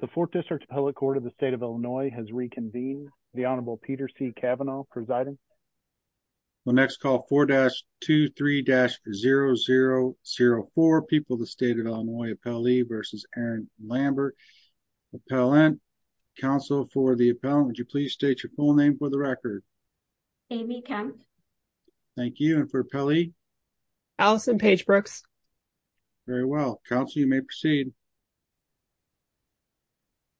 The 4th District Appellate Court of the State of Illinois has reconvened. The Honorable Peter C. Kavanaugh presiding. We'll next call 4-23-0004, People of the State of Illinois, Appellee v. Aaron Lambert. Appellant, Counsel for the Appellant, would you please state your full name for the record? Amy Kemp. Thank you, and for Appellee? Allison Page-Brooks. Very well. Counsel, you may proceed. Amy Kemp.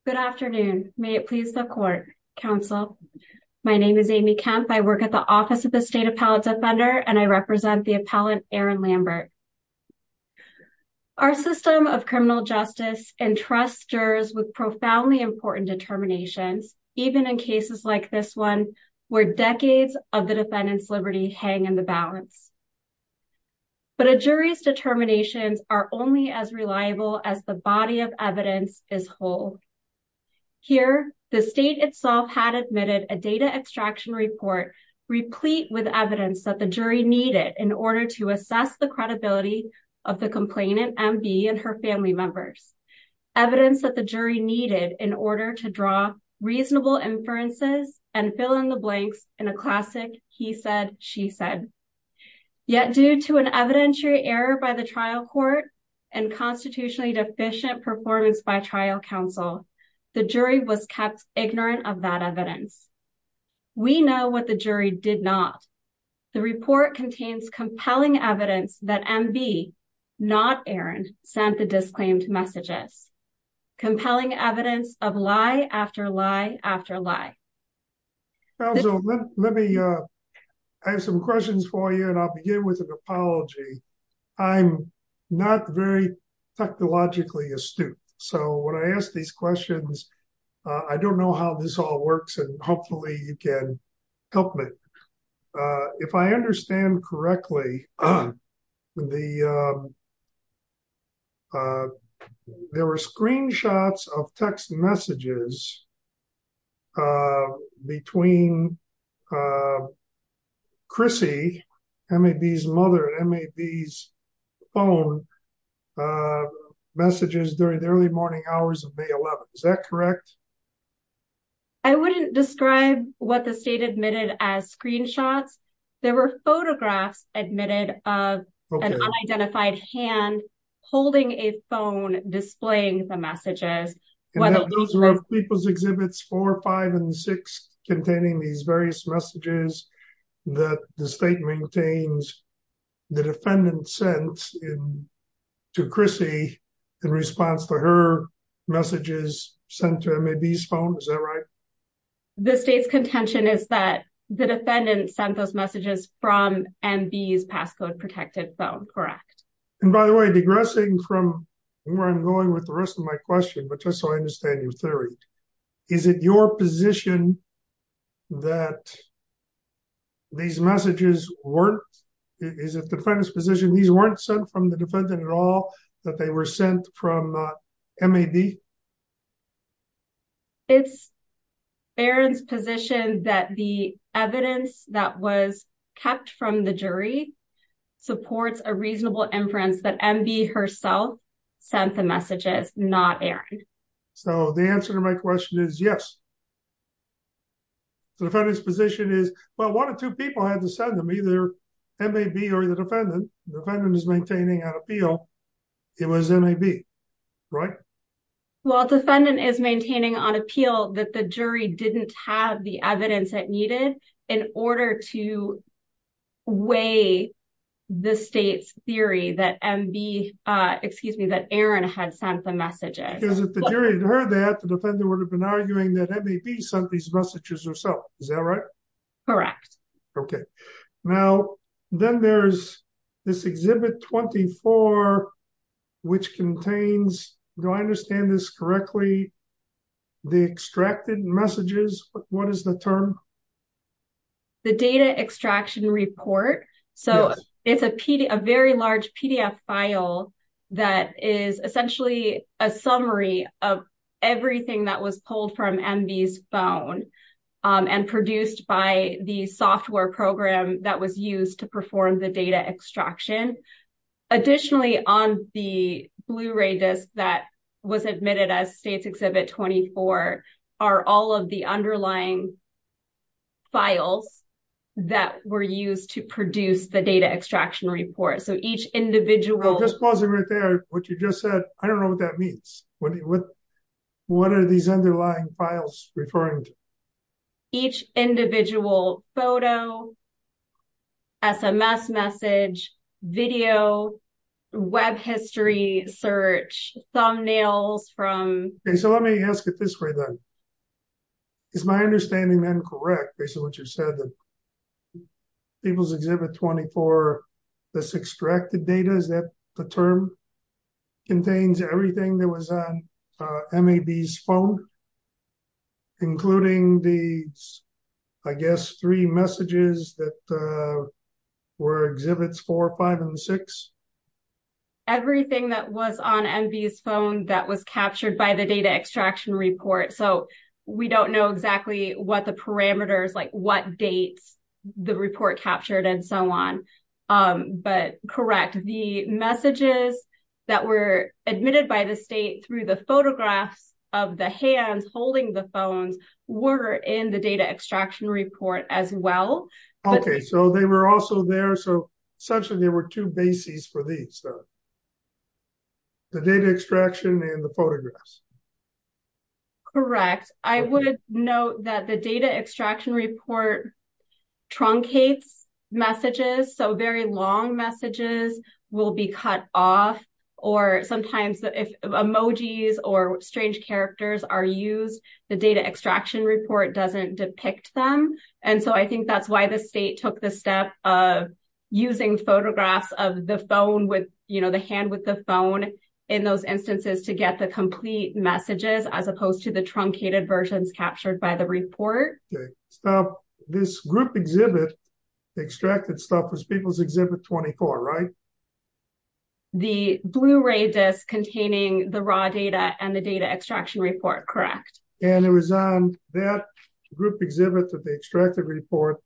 Good afternoon. May it please the Court, Counsel. My name is Amy Kemp. I work at the Office of the State Appellate Defender, and I represent the Appellant, Aaron Lambert. Our system of criminal justice entrusts jurors with profoundly important determinations, even in cases like this one, where decades of the defendant's liberty hang in the balance. But a jury's determinations are only as reliable as the body of evidence is whole. Here, the State itself had admitted a data extraction report replete with evidence that the jury needed in order to assess the credibility of the complainant, M.B., and her family members. Evidence that the jury needed in order to draw reasonable inferences and fill in the blanks in a classic he-said-she-said. Yet due to an evidentiary error by the trial court and constitutionally deficient performance by trial counsel, the jury was kept ignorant of that evidence. We know what the jury did not. The report contains compelling evidence that M.B., not Aaron, sent the disclaimed messages. Compelling evidence of lie after lie after lie. Counsel, let me, I have some questions for you, and I'll begin with an apology. I'm not very technologically astute, so when I ask these questions, I don't know how this all works, and hopefully you can help me. If I understand correctly, there were screenshots of text messages between Chrissy, M.A.B.'s mother, and M.A.B.'s phone, messages during the early morning hours of May 11th. Is that correct? I wouldn't describe what the state admitted as screenshots. There were photographs admitted of an unidentified hand holding a phone displaying the messages. And those were of People's Exhibits 4, 5, and 6, containing these various messages that the state maintains the defendant sent to Chrissy in response to her messages sent to him. M.A.B.'s phone, is that right? The state's contention is that the defendant sent those messages from M.B.'s passcode-protected phone, correct. And by the way, digressing from where I'm going with the rest of my question, but just so I understand your theory, is it your position that these messages weren't, is it the defendant's position these weren't sent from the defendant at all, that they were sent from M.A.B.? It's Aaron's position that the evidence that was kept from the jury supports a reasonable inference that M.B. herself sent the messages, not Aaron. So the answer to my question is yes. The defendant's position is, well, one or two people had to send them, either M.A.B. or the defendant. The defendant is maintaining an appeal. It was M.A.B., right? Well, defendant is maintaining on appeal that the jury didn't have the evidence it needed in order to weigh the state's theory that M.B., excuse me, that Aaron had sent the messages. If the jury had heard that, the defendant would have been arguing that M.A.B. sent these messages herself, is that right? Correct. Okay. Now, then there's this Exhibit 24, which contains, do I understand this correctly, the extracted messages? What is the term? The data extraction report. So it's a very large PDF file that is essentially a summary of that was used to perform the data extraction. Additionally, on the Blu-ray disc that was admitted as State's Exhibit 24 are all of the underlying files that were used to produce the data extraction report. So each individual- I'm just pausing right there. What you just said, I don't know what that means. What are these underlying files referring to? Each individual photo, SMS message, video, web history search, thumbnails from- Okay, so let me ask it this way then. Is my understanding then correct based on what you said that People's Exhibit 24, this extracted data, is that the term contains everything that was on MAB's phone, including the, I guess, three messages that were Exhibits 4, 5, and 6? Everything that was on MAB's phone that was captured by the data extraction report. So we don't know exactly what the parameters, like what dates the report captured and so on. But correct, the messages that were admitted by the State through the photographs of the hands holding the phones were in the data extraction report as well. Okay, so they were also there. So essentially there were two bases for these, the data extraction and the photographs. Correct. I would note that the data extraction report truncates messages, so very long messages will be cut off or sometimes if emojis or strange characters are used, the data extraction report doesn't depict them. And so I think that's why the State took the step of using photographs of the phone with, you know, the hand with the phone in those instances to get the complete messages as opposed to the truncated versions captured by the report. This group exhibit, the extracted stuff, was People's Exhibit 24, right? The Blu-ray disc containing the raw data and the data extraction report, correct. And it was on that group exhibit, the extracted report,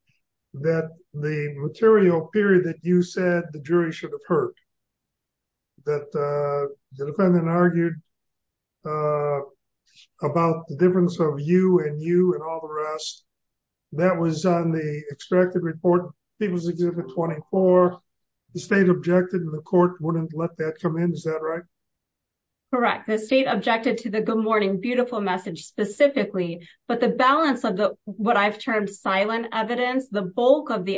that the material period that you said the jury should have heard, that the defendant argued about the difference of you and you and all the rest, that was on the extracted report, People's Exhibit 24, the State objected and the court wouldn't let that come in, is that right? Correct. The State objected to the good morning, beautiful message specifically, but the balance of what I've termed silent evidence, the bulk of the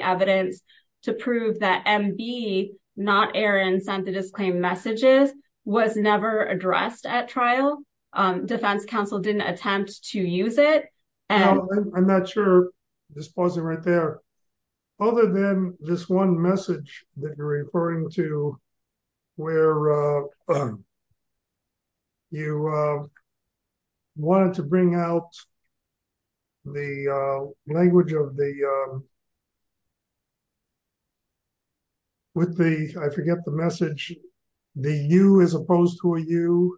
not Aaron sent the disclaimed messages, was never addressed at trial. Defense counsel didn't attempt to use it. I'm not sure, just pause it right there. Other than this one message that you're referring to where you wanted to bring out the language of the, I forget the message, the you as opposed to a you,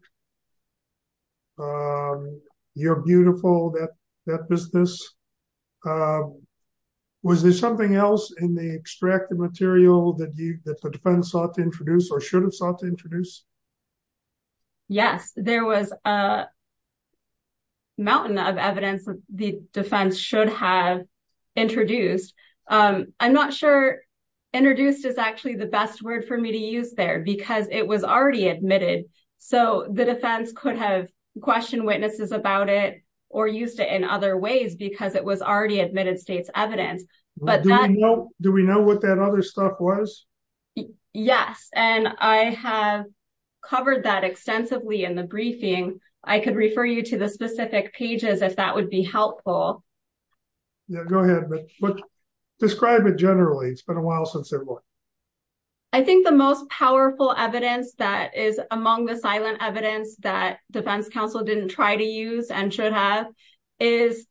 you're beautiful, that business. Was there something else in the extracted material that the defense sought to introduce or should have sought to introduce? Yes, there was a mountain of evidence that the defense should have introduced. I'm not sure introduced is actually the best word for me to use there because it was already admitted. So the defense could have questioned witnesses about it or used it in other ways because it was already admitted state's evidence. Do we know what that other stuff was? Yes. And I have covered that extensively in the briefing. I could refer you to the specific pages if that would be helpful. Yeah, go ahead. But describe it generally. It's been a while since there was. I think the most powerful evidence that is among the silent evidence that defense counsel didn't try to use and should have is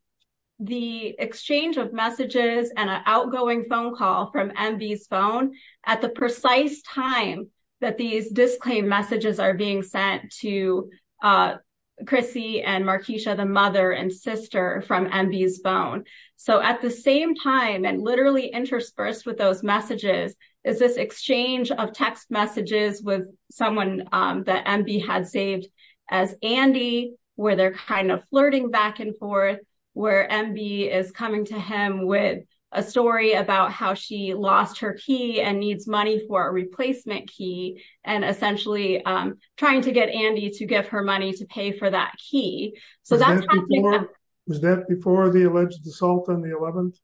the exchange of messages and an outgoing phone call from MB's phone at the precise time that these disclaim messages are being sent to Chrissy and Markeisha, the mother and sister from MB's phone. So at the same time and literally interspersed with those messages is this exchange of text messages with someone that MB had saved as Andy, where they're kind of flirting back and forth, where MB is coming to him with a story about how she lost her key and needs money for a replacement key and essentially trying to get Andy to give her money to pay for that key. So that was that before the alleged assault on the 11th?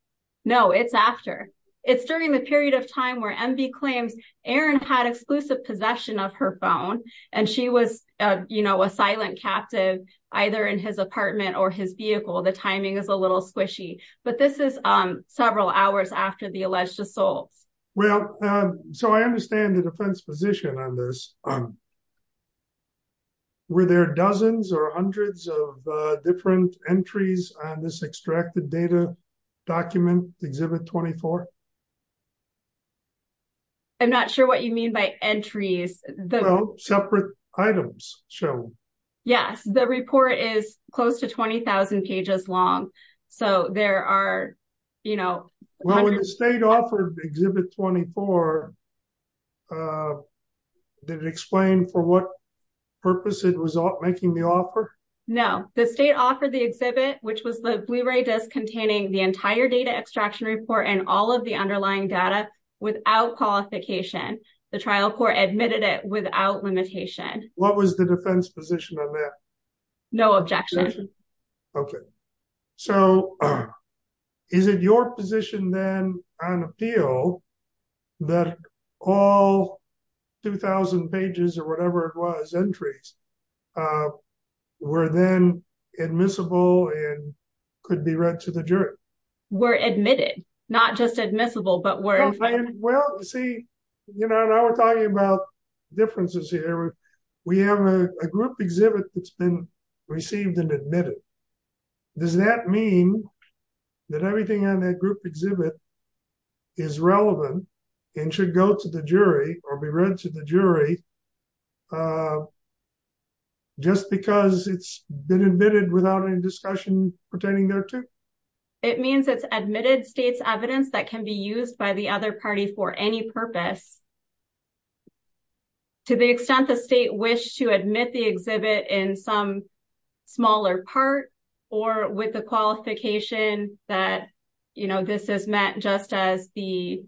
No, it's after it's during the period of time where MB claims Aaron had exclusive possession of her phone and she was, you know, a silent captive either in his apartment or his vehicle. The timing is a little squishy, but this is several hours after the alleged assault. Well, so I understand the defense position on this. Were there dozens or hundreds of different entries on this extracted data document, Exhibit 24? I'm not sure what you mean by entries. Separate items shown. Yes, the report is close to 20,000 pages long. So there are, you know. Well, when the state offered Exhibit 24, did it explain for what purpose it was making the offer? No, the state offered the exhibit, which was the Blu-ray disc containing the entire data extraction report and all of the underlying data without qualification. The trial court admitted it without limitation. What was the defense position on that? No objection. Okay. So is it your position then on appeal that all 2,000 pages or whatever it was, entries, were then admissible and could be read to the jury? Were admitted, not just admissible, but were. Well, you see, you know, now we're talking about differences here. We have a group exhibit that's been received and admitted. Does that mean that everything on that group exhibit is relevant and should go to the jury or be read to the jury just because it's been admitted without any discussion pertaining thereto? It means it's admitted state's evidence that can be used by the other party for any purpose. To the extent the state wished to admit the exhibit in some smaller part or with the qualification that, you know, this is meant just as the,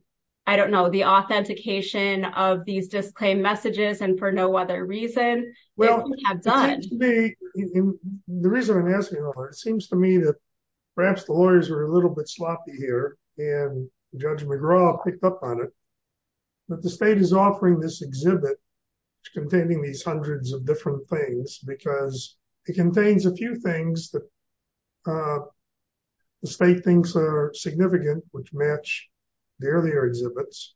I don't know, the authentication of these disclaimed messages and for no other reason. Well, the reason I'm asking, it seems to me that perhaps the lawyers were a little bit sloppy here and Judge McGraw picked up on it, but the state is offering this exhibit containing these hundreds of different things because it contains a few things that the state thinks are significant, which match the earlier exhibits.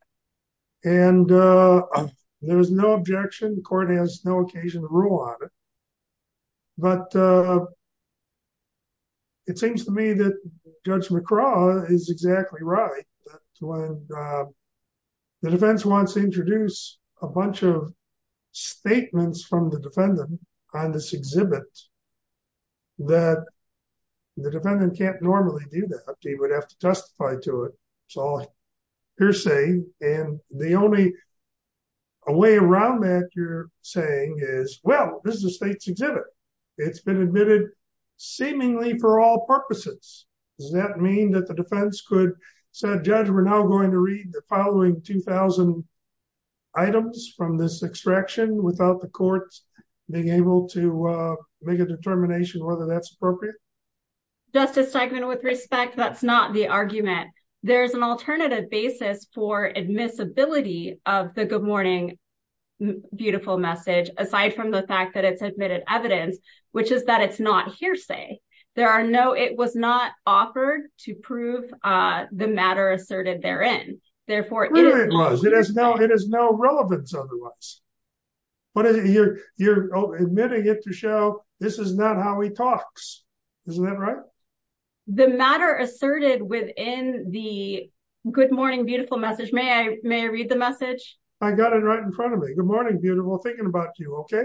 And there was no objection. The court has no occasion to rule on it. But it seems to me that Judge McGraw is exactly right. When the defense wants to introduce a bunch of statements from the defendant on this exhibit, that the defendant can't normally do that. He would have to testify to it. It's all hearsay. And the only way around that you're saying is, well, this is the state's exhibit. It's been admitted seemingly for all purposes. Does that mean that the defense could say, Judge, we're now going to read the following 2000 items from this extraction without the courts being able to make a determination whether that's appropriate? Justice Steigman, with respect, that's not the argument. There's an alternative basis for admissibility of the good morning, beautiful message, aside from the fact that it's admitted evidence, which is that it's not hearsay. There are no, it was not offered to prove the matter asserted therein. Therefore, it is no relevance otherwise. But you're admitting it to show this is not how he talks. Isn't that right? The matter asserted within the good morning, beautiful message. May I read the message? I got it right in front of me. Good morning, beautiful. Thinking about you. Okay.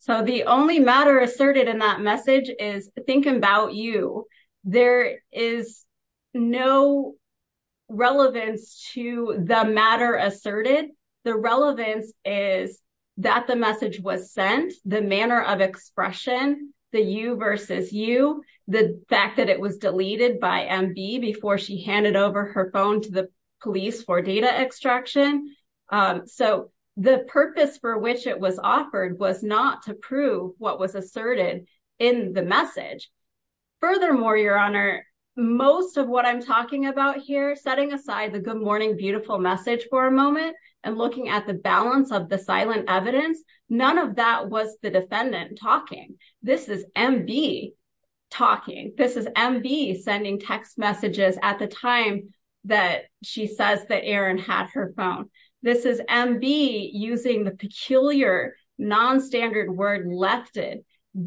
So the only matter asserted in that message is think about you. There is no relevance to the matter asserted. The relevance is that the message was sent, the manner of expression, the you versus you, the fact that it was deleted by MB before she handed over her phone to the police for data extraction. So the purpose for which it was offered was not to prove what was asserted in the message. Furthermore, Your Honor, most of what I'm talking about here, the good morning, beautiful message for a moment and looking at the balance of the silent evidence, none of that was the defendant talking. This is MB talking. This is MB sending text messages at the time that she says that Aaron had her phone. This is MB using the peculiar non-standard word lefted,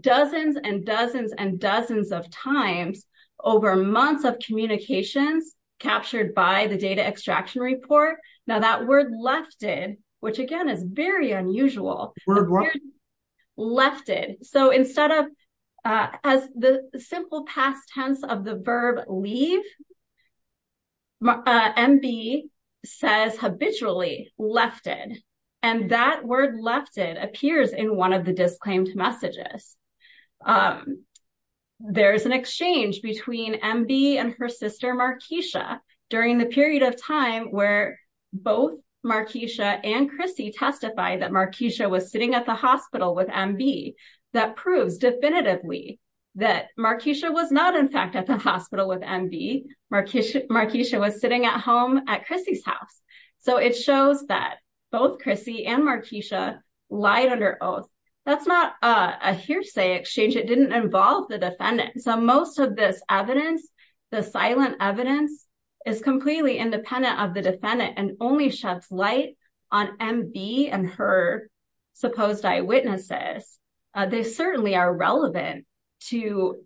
dozens and dozens and dozens of times over months of communications captured by the data extraction report. Now that word lefted, which again is very unusual, lefted. So instead of as the simple past tense of the verb leave, MB says habitually lefted. And that word lefted appears in one of the disclaimed messages. There's an exchange between MB and her sister Marquisha during the period of time where both Marquisha and Chrissy testify that Marquisha was sitting at the hospital with MB. That proves definitively that Marquisha was not in fact at the hospital with MB. Marquisha was sitting at home at Chrissy's house. So it shows that both Chrissy and Marquisha lied under oath. That's not a hearsay exchange. It didn't involve the defendant. So most of this evidence, the silent evidence is completely independent of the defendant and only sheds light on MB and her supposed eyewitnesses. They certainly are relevant to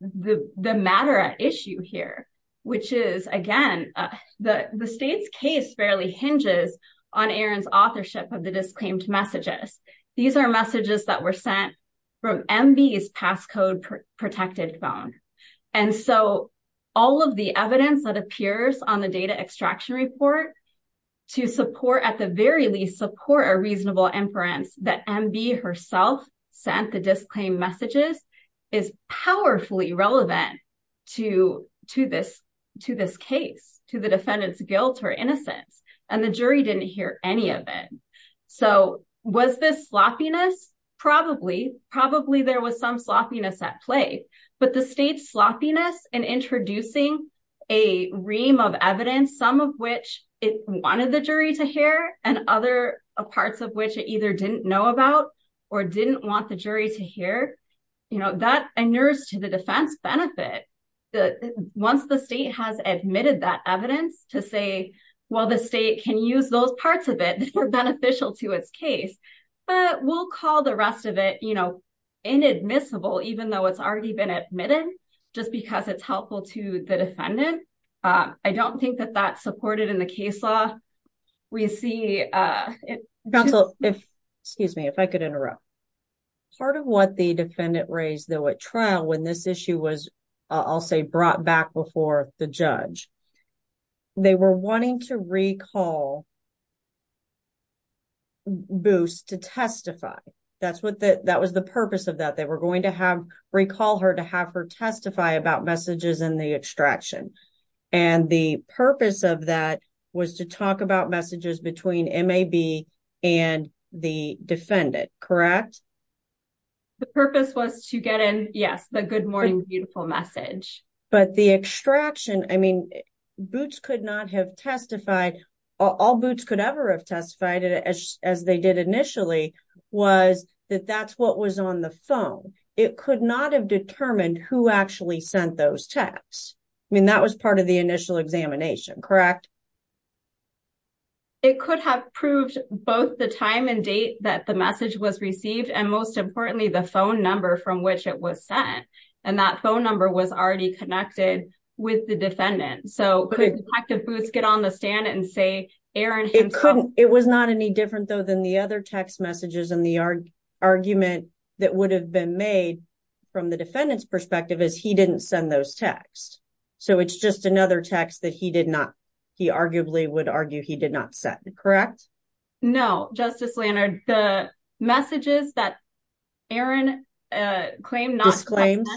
the matter at issue here, which is again, the state's case fairly hinges on Aaron's authorship of the disclaimed messages. These are messages that were sent from MB's passcode protected phone. And so all of the evidence that appears on the data extraction report to support at the very least support a reasonable inference that MB herself sent the disclaimed messages is powerfully relevant to this case, to the defendant's guilt or innocence. And the jury didn't hear any of it. So was this sloppiness? Probably. Probably there was some sloppiness at play, but the state's sloppiness in introducing a ream of evidence, some of which it wanted the jury to hear and other parts of which it either didn't know about or didn't want the jury to hear, that inures to the defense benefit. Once the state has admitted that evidence to say, well, the state can use those parts of it that were beneficial to its case, but we'll call the rest of it inadmissible, even though it's already been admitted, just because it's helpful to the defendant. I don't think that that's supported in the case law. We see... Counsel, if, excuse me, if I could interrupt. Part of what the defendant raised, though, at trial when this issue was, I'll say, brought back before the judge, they were wanting to recall Boos to testify. That's what the, that was the purpose of that. They were going to have, recall her to have her testify about messages in the extraction. And the purpose of that was to talk about messages between MAB and the defendant, correct? The purpose was to get in, yes, the good morning, beautiful message. But the extraction, I mean, Boots could not have testified, all Boots could ever have testified as they did initially, was that that's what was on the phone. It could not have determined who sent those texts. I mean, that was part of the initial examination, correct? It could have proved both the time and date that the message was received, and most importantly, the phone number from which it was sent. And that phone number was already connected with the defendant. So could Detective Boots get on the stand and say, Aaron himself... It couldn't. It was not any different though, than the other text messages and the argument that would have been made from the defendant's perspective is he didn't send those texts. So it's just another text that he did not, he arguably would argue he did not send, correct? No, Justice Leonard, the messages that Aaron claimed not to have sent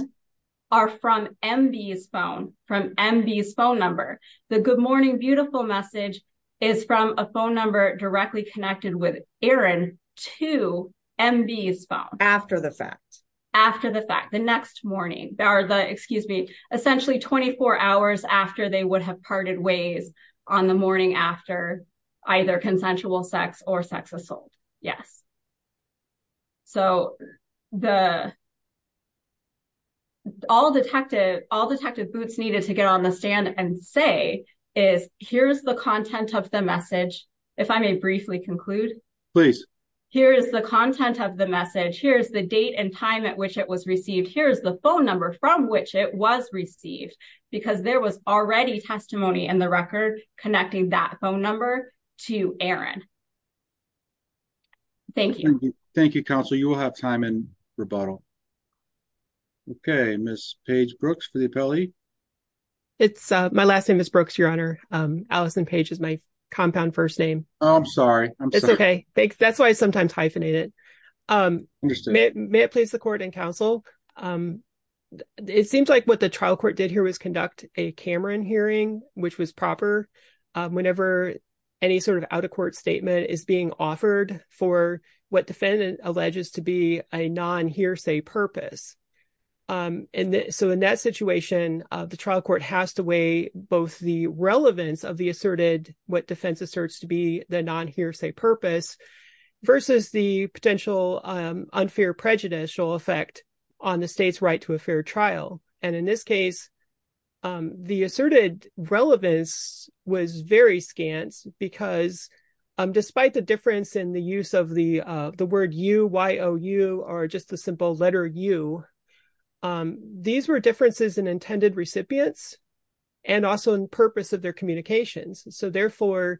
are from MB's phone, from MB's phone number. The good morning, beautiful message is from a phone number directly connected with Aaron to MB's phone. After the fact. After the fact, the next morning, or the, excuse me, essentially 24 hours after they would have parted ways on the morning after either consensual sex or sex assault. Yes. So all Detective Boots needed to get on the stand and say is here's the content of the message. If I may briefly conclude. Please. Here's the content of the message. Here's the date and time at which it was received. Here's the phone number from which it was received because there was already testimony in the record connecting that phone number to Aaron. Thank you. Thank you, counsel. You will have time in rebuttal. Okay, Ms. Paige Brooks for the appellee. It's my last name is Brooks, Your Honor. Alison Page is my compound first name. I'm sorry. It's okay. Thanks. That's why I sometimes hyphenate it. May it please the court and counsel. It seems like what the trial court did here was conduct a Cameron hearing, which was proper whenever any sort of out of court statement is being offered for what defendant alleges to be a non hearsay purpose. And so in that situation, the trial court has to weigh both the relevance of the asserted what defense asserts to be the non hearsay purpose versus the potential unfair prejudicial effect on the state's right to a fair trial. And in this case, the asserted relevance was very scant because despite the difference in the use of the word you are just a simple letter you. These were differences in intended recipients and also in purpose of their communications. So therefore,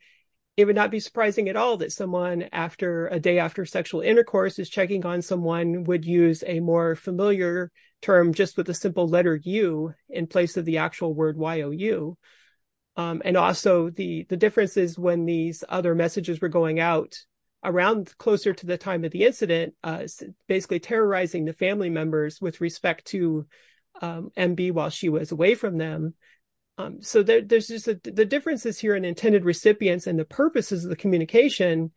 it would not be surprising at all that someone after a day after sexual intercourse is checking on someone would use a more familiar term just with a simple letter you in place of the actual word. And also the differences when these other messages were going out around closer to the time of the incident, basically terrorizing the family members with respect to MB while she was away from them. So there's just the differences here in intended recipients and the purposes of the communication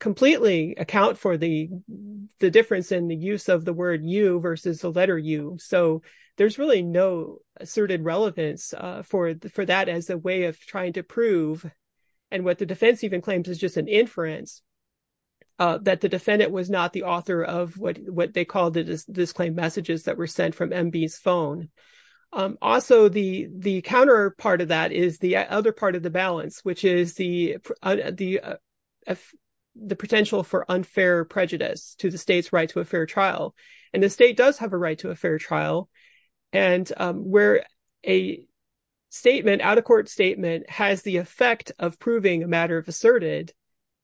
completely account for the difference in the use of the word you versus the letter you. So there's really no asserted relevance for that as a way of trying to prove and what the defense even claims is just an inference that the defendant was not the author of what they called the disclaimed messages that were sent from MB's phone. Also, the counterpart of that is the other part of the balance, which is the potential for unfair prejudice to the state's right to a and where a statement out of court statement has the effect of proving a matter of asserted,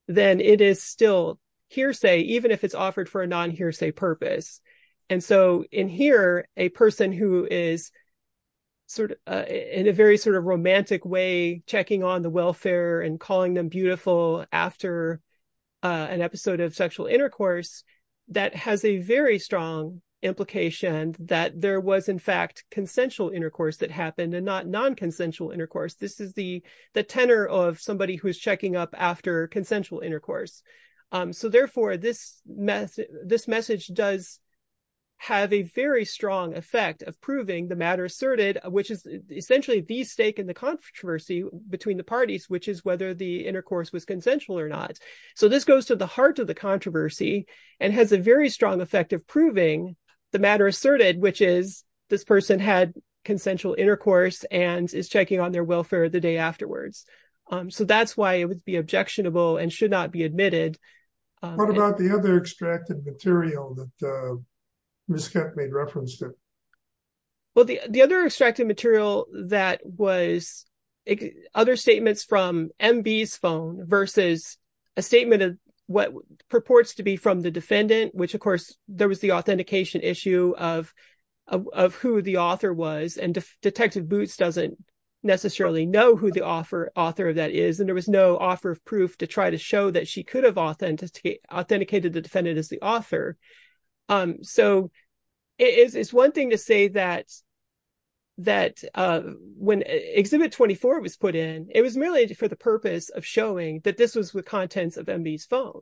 then it is still hearsay, even if it's offered for a non hearsay purpose. And so in here, a person who is sort of in a very sort of romantic way, checking on the welfare and calling them beautiful after an episode of sexual intercourse, that has a very strong implication that there was, in fact, consensual intercourse that happened and not non consensual intercourse. This is the tenor of somebody who's checking up after consensual intercourse. So therefore, this message does have a very strong effect of proving the matter asserted, which is essentially the stake in the controversy between the parties, which is whether the intercourse was consensual or not. So this goes to the heart of the controversy and has a very strong effect of this person had consensual intercourse and is checking on their welfare the day afterwards. So that's why it would be objectionable and should not be admitted. What about the other extracted material that was kept made reference to? Well, the the other extracted material that was other statements from MB's phone versus a statement of what purports to be from the defendant, which, of course, there was the who the author was. And Detective Boots doesn't necessarily know who the author of that is. And there was no offer of proof to try to show that she could have authenticated the defendant as the author. So it's one thing to say that that when Exhibit 24 was put in, it was merely for the purpose of showing that this was the contents of MB's phone.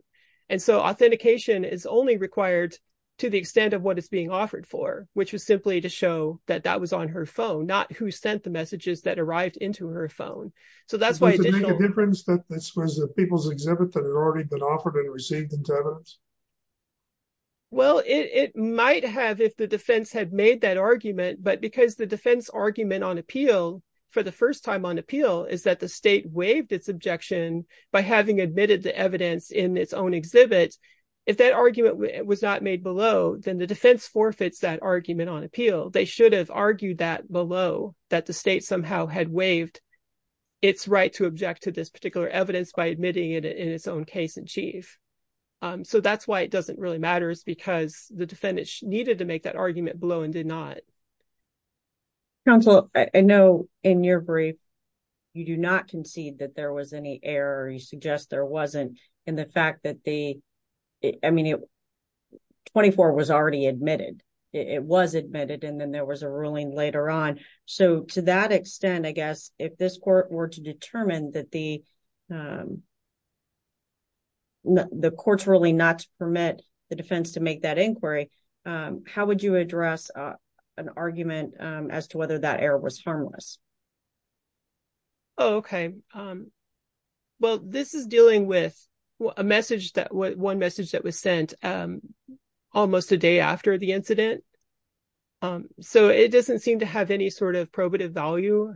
And so authentication is only required to the extent of what is being offered for, which was simply to show that that was on her phone, not who sent the messages that arrived into her phone. So that's why it makes a difference that this was a people's exhibit that had already been offered and received in terms. Well, it might have if the defense had made that argument, but because the defense argument on appeal for the first time on appeal is that the state waived its objection by having admitted the evidence in its own exhibit. If that argument was not made below, then the defense forfeits that argument on appeal. They should have argued that below that the state somehow had waived its right to object to this particular evidence by admitting it in its own case in chief. So that's why it doesn't really matter is because the defendant needed to make that argument below and did not. Counsel, I know in your brief, you do not concede that there was any error. You suggest there wasn't in the fact that the I mean, it was already admitted. It was admitted. And then there was a ruling later on. So to that extent, I guess, if this court were to determine that the. The court's ruling not to permit the defense to make that inquiry, how would you address an argument as to whether that error was harmless? Okay, well, this is dealing with a message that one message that was sent almost a day after the incident. So it doesn't seem to have any sort of probative value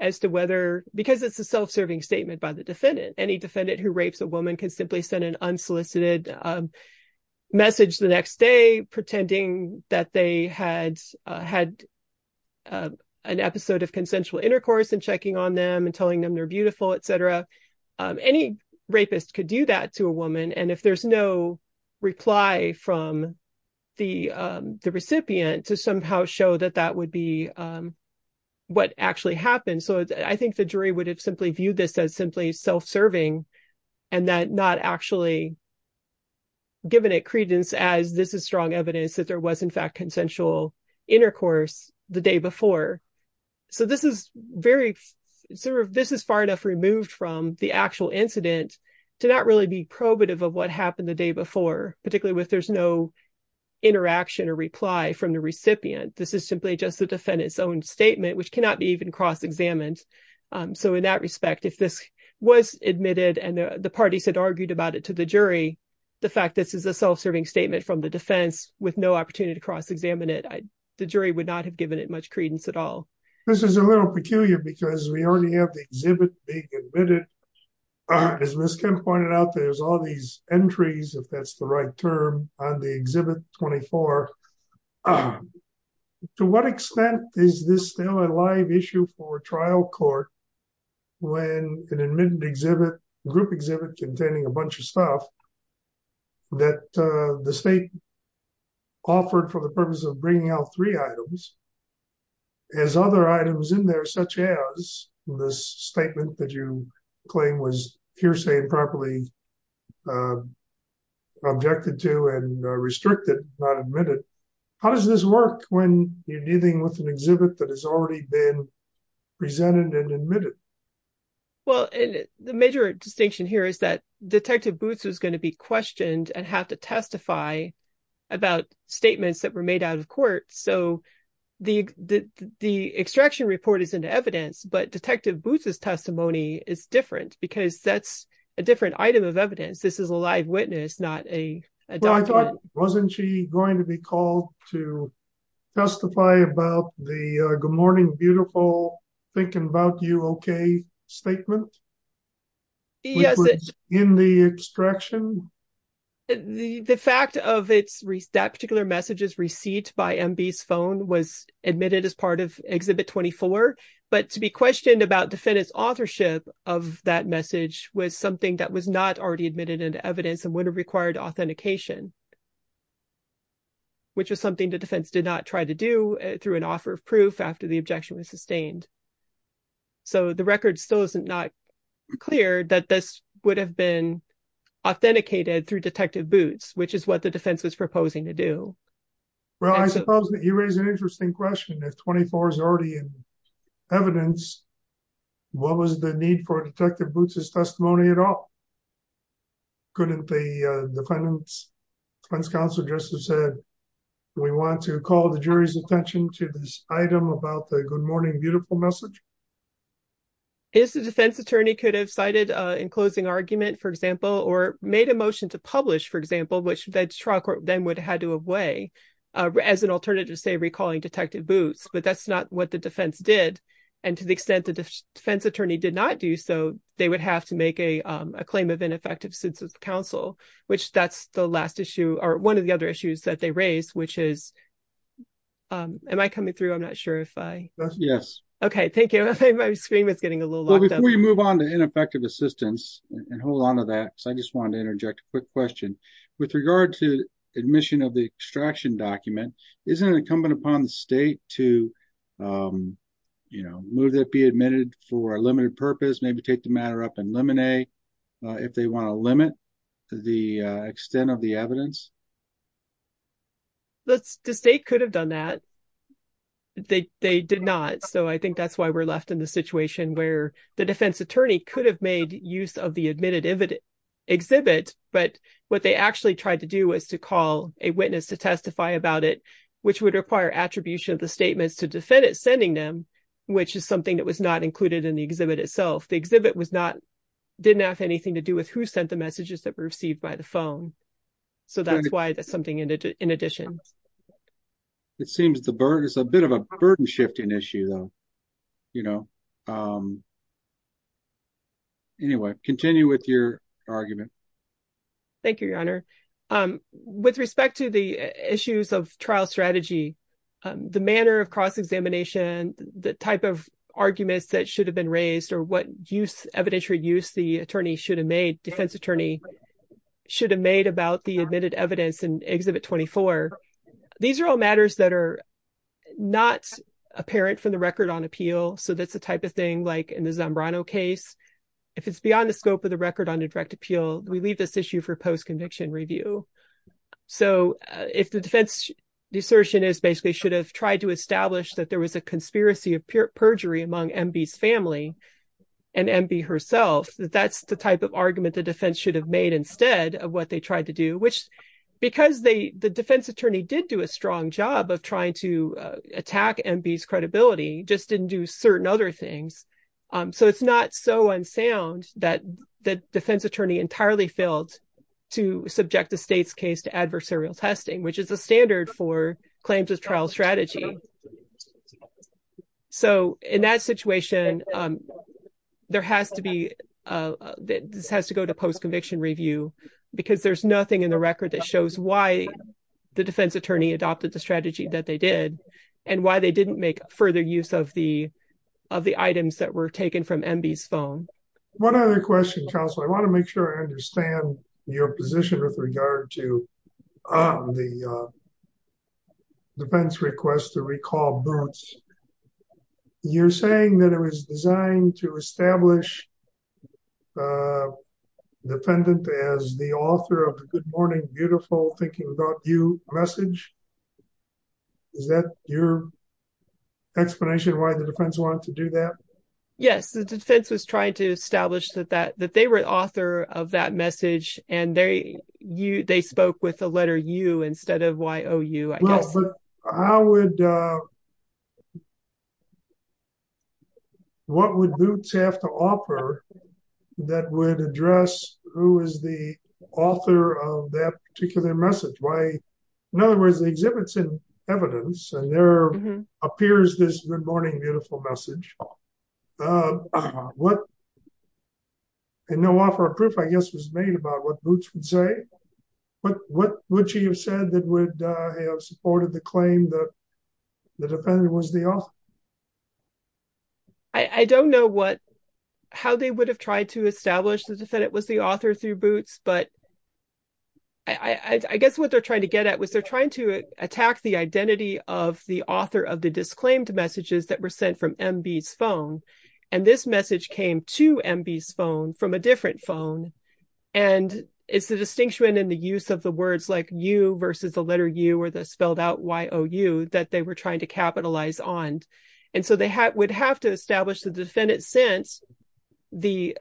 as to whether because it's a self-serving statement by the defendant, any defendant who rapes a woman can simply send an unsolicited message the next day, pretending that they had had an episode of consensual intercourse and checking on them and telling them they're beautiful, et cetera. Any rapist could do that to a woman. And if there's no reply from the recipient to somehow show that that would be what actually happened. So I think the jury would have simply viewed this as simply self-serving and that not actually. Given it credence as this is strong evidence that there was, in fact, consensual intercourse the day before. So this is very sort of this is far enough removed from the actual incident to not really be probative of what happened the day before, particularly if there's no interaction or reply from the recipient. This is simply just the defendant's own statement, which cannot be even cross examined. So in that respect, if this was admitted and the parties argued about it to the jury, the fact this is a self-serving statement from the defense with no opportunity to cross examine it, the jury would not have given it much credence at all. This is a little peculiar because we already have the exhibit being admitted. As Ms. Kim pointed out, there's all these entries, if that's the right term, on the Exhibit 24. To what extent is this still a live issue for a trial court when an admitted exhibit, group exhibit containing a bunch of stuff that the state offered for the purpose of bringing out three items, has other items in there such as this statement that you claim was hearsay and properly objected to and restricted, not admitted. How does this work when you're dealing with an exhibit that has already been presented and admitted? Well, the major distinction here is that Detective Boots is going to be questioned and have to testify about statements that were made out of court. So the extraction report is in the evidence, but Detective Boots' testimony is different because that's a different item of evidence. This is a live witness, not a document. Wasn't she going to be called to testify about the good morning, beautiful, thinking about you, okay statement in the extraction? The fact of that particular message's receipt by MB's phone was admitted as part of Exhibit 24, but to be questioned about defendant's authorship of that message was something that was not already admitted into evidence and would have required authentication, which was something the defense did not try to do through an offer of proof after the objection was sustained. So the record still is not clear that this would have been authenticated through Detective Boots, which is what the defense was proposing to do. Well, I suppose that you raise an interesting question. If 24 is already in evidence, what was the need for Detective Boots' testimony at all? Couldn't the defendant's defense counsel just have said, we want to call the jury's attention to this item about the good morning, beautiful message? If the defense attorney could have cited an enclosing argument, for example, or made a motion to publish, for example, which the trial court then would have had to weigh as an alternative, say, recalling Detective Boots, but that's not what the defense did. And to the extent the defense attorney did not do so, they would have to make a claim of ineffective census counsel, which that's the last issue or one of the other issues that they raised, which is, am I coming through? I'm not sure if I... Yes. Okay, thank you. My screen is getting a little locked up. Before you move on to ineffective assistance, and hold on to that, because I just wanted to interject a quick question. With regard to admission of the extraction document, isn't it incumbent upon the state to move that be admitted for a limited purpose, maybe take the matter up in limine, if they want to limit the extent of the evidence? The state could have done that. They did not. So I think that's why we're left in the situation where the defense attorney could have made use of the admitted exhibit, but what they actually tried to do was to call a witness to testify about it, which would require attribution of the statements to defend it sending them, which is something that was not included in the exhibit itself. The exhibit didn't have anything to do with who sent the messages that were received by the phone. So that's why that's something in addition. It's a bit of a burden shifting issue, you know. Anyway, continue with your argument. Thank you, your honor. With respect to the issues of trial strategy, the manner of cross-examination, the type of arguments that should have been raised, or what use evidentiary use the attorney should have made, defense attorney should have made about the admitted evidence in exhibit 24. These are all matters that are not apparent from the record on appeal, so that's the type of thing like in the Zambrano case. If it's beyond the scope of the record on a direct appeal, we leave this issue for post-conviction review. So if the defense assertion is basically should have tried to establish that there was a conspiracy of perjury among MB's family and MB herself, that's the type of argument the defense should have made instead of what they tried to do, which because the defense attorney did do a strong job of trying to attack MB's credibility, just didn't do certain other things. So it's not so unsound that the defense attorney entirely failed to subject the state's case to adversarial testing, which is a standard for claims of trial strategy. So in that situation, this has to go to post-conviction review because there's nothing in the record that shows why the defense attorney adopted the strategy that they did and why they didn't make further use of the of the items that were taken from MB's phone. One other question, counsel, I want to make sure I understand your position with regard to the defense request to recall Boots. You're saying that it was designed to establish the defendant as the author of the good morning, beautiful, thinking about you message. Is that your explanation of why the defense wanted to do that? Yes, the defense was trying to establish that they were the author of that message, and they spoke with the letter U instead of Y-O-U. But what would Boots have to offer that would address who is the author of that particular message? In other words, the exhibit's in evidence, and there appears this good morning, beautiful message. And no offer of proof, I guess, was made about what Boots would say. But what would you have said that would have supported the claim that the defendant was the author? I don't know what how they would have tried to establish that it was the author through Boots, but I guess what they're trying to get at was they're trying to attack the identity of the author of the disclaimed messages that were sent from MB's phone. And this message came to MB's in the use of the words like U versus the letter U or the spelled out Y-O-U that they were trying to capitalize on. And so they would have to establish the defendant sent the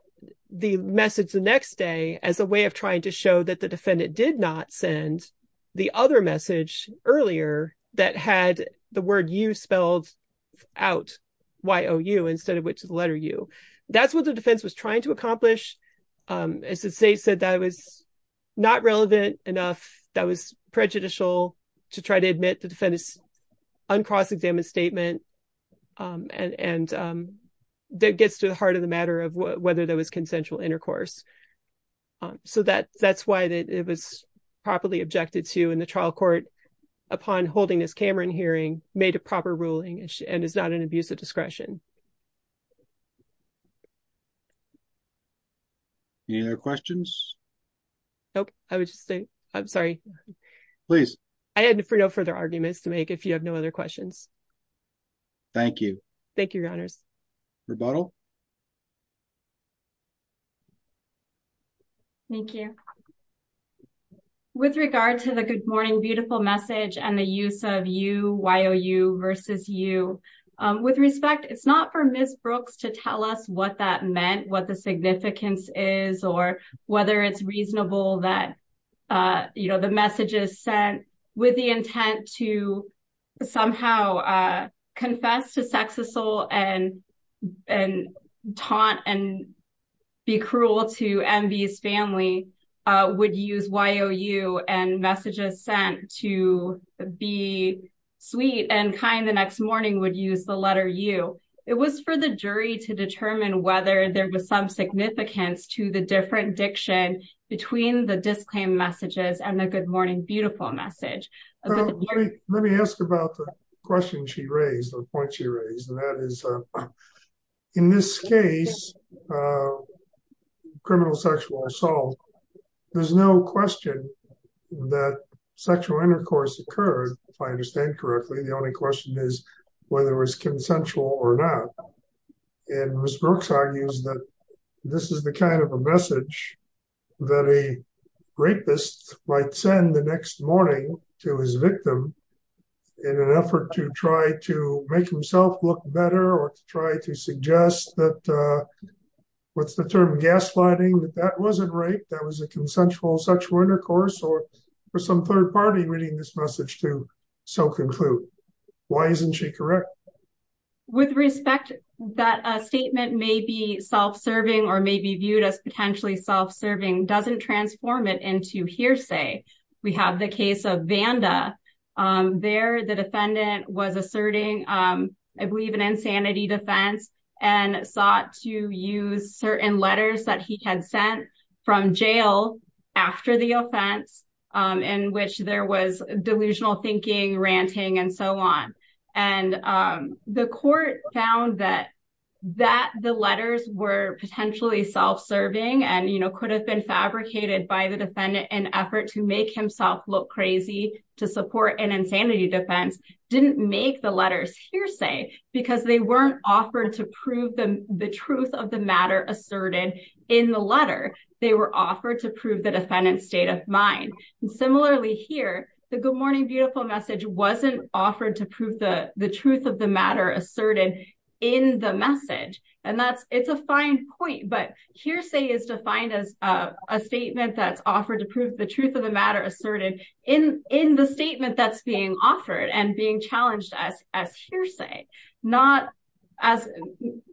message the next day as a way of trying to show that the defendant did not send the other message earlier that had the word U spelled out Y-O-U instead of which letter U. That's what the defense was trying to do. It was not relevant enough that was prejudicial to try to admit the defendant's uncross-examined statement, and that gets to the heart of the matter of whether there was consensual intercourse. So that's why it was properly objected to in the trial court upon holding this Cameron hearing, made a proper ruling, and is not an abuse of discretion. Any other questions? Nope. I would just say I'm sorry. Please. I had no further arguments to make if you have no other questions. Thank you. Thank you, your honors. Rebuttal. Thank you. With regard to the good morning beautiful message and the use of U, Y-O-U versus U, with respect, it's not for Ms. Brooks to tell us what that meant, what the significance is, or whether it's reasonable that, you know, the messages sent with the intent to somehow confess to sex assault and taunt and be cruel to Envy's family would use Y-O-U and messages sent to be sweet and kind the next morning would use the letter U. It was for the jury to determine whether there was some significance to the different diction between the disclaim messages and the good morning beautiful message. Let me ask about the question she raised, the point she raised, and that is in this case of criminal sexual assault, there's no question that sexual intercourse occurred, if I understand correctly. The only question is whether it was consensual or not. And Ms. Brooks argues that this is the kind of a message that a rapist might send the next morning to his victim in an effort to try to make himself look better or to try to suggest that what's the term, gaslighting, that that wasn't rape, that was a consensual sexual intercourse, or for some third party reading this message to so conclude. Why isn't she correct? With respect, that statement may be self-serving or may be viewed as potentially self-serving doesn't transform it into hearsay. We have the case of Vanda. There the defendant was asserting, I believe, an insanity defense and sought to use certain letters that he had sent from jail after the offense in which there was delusional thinking, ranting, and so on. And the court found that the letters were potentially self-serving and could have been fabricated by the defendant in an effort to make himself look crazy to support an insanity defense, didn't make the letters hearsay because they weren't offered to prove the truth of the matter asserted in the letter. They were offered to prove the defendant's state of mind. And similarly here, the good morning, beautiful message wasn't offered to prove the truth of the matter asserted in the message. And that's, it's a fine point, but hearsay is defined as a statement that's offered to prove the truth of the matter asserted in the statement that's offered and being challenged as hearsay, not as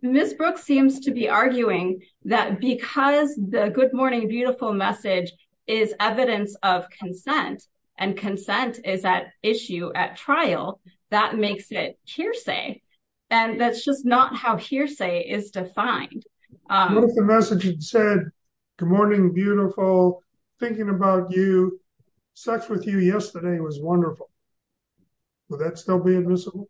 Ms. Brooks seems to be arguing that because the good morning, beautiful message is evidence of consent and consent is at issue at trial, that makes it hearsay. And that's just not how hearsay is defined. What if the message had said, good morning, beautiful, thinking about you, sex with you yesterday was wonderful. Would that still be admissible?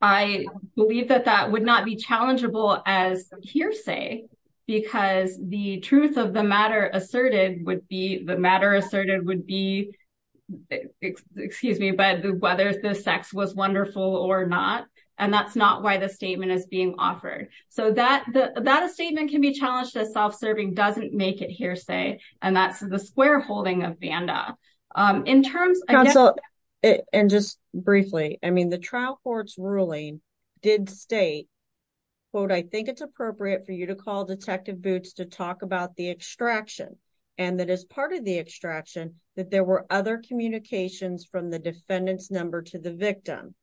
I believe that that would not be challengeable as hearsay because the truth of the matter asserted would be the matter asserted would be, excuse me, but whether the sex was wonderful or not. And that's not why the statement is being offered. So that the, that a statement can be challenged as self-serving doesn't make it hearsay. And that's the square holding of Banda in terms of, and just briefly, I mean, the trial court's ruling did state quote, I think it's appropriate for you to call detective boots to talk about the extraction. And that as part of the extraction, that there were other communications from the defendant's number to the victim,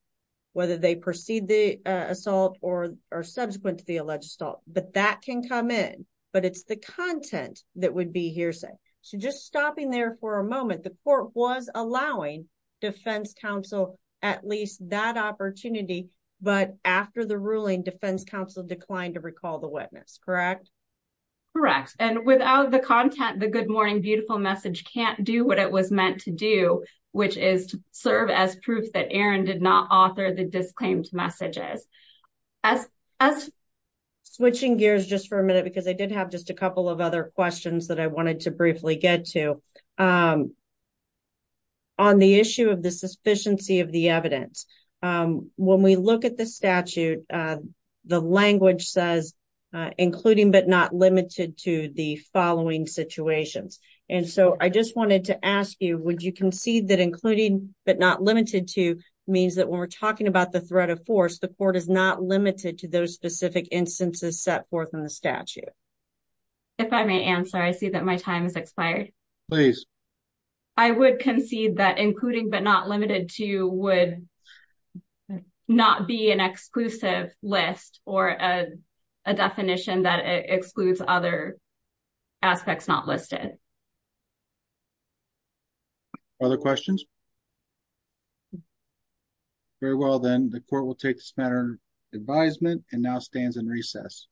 whether they proceed the assault or, or subsequent to the alleged assault, but that can come in, but it's the content that would be hearsay. So just stopping there for a moment, the court was allowing defense counsel, at least that opportunity, but after the ruling defense counsel declined to recall the witness, correct? Correct. And without the content, the good morning, beautiful message can't do what it was meant to do, which is serve as proof that messages as, as. Switching gears just for a minute, because I did have just a couple of other questions that I wanted to briefly get to on the issue of the sufficiency of the evidence. When we look at the statute the language says including, but not limited to the following situations. And so I just wanted to ask you, would you concede that including, but not limited to means that when we're talking about the threat of force, the court is not limited to those specific instances set forth in the statute? If I may answer, I see that my time has expired. Please. I would concede that including, but not limited to would not be an exclusive list or a, a definition that excludes other aspects, not listed. Other questions very well, then the court will take this matter advisement and now stands in recess.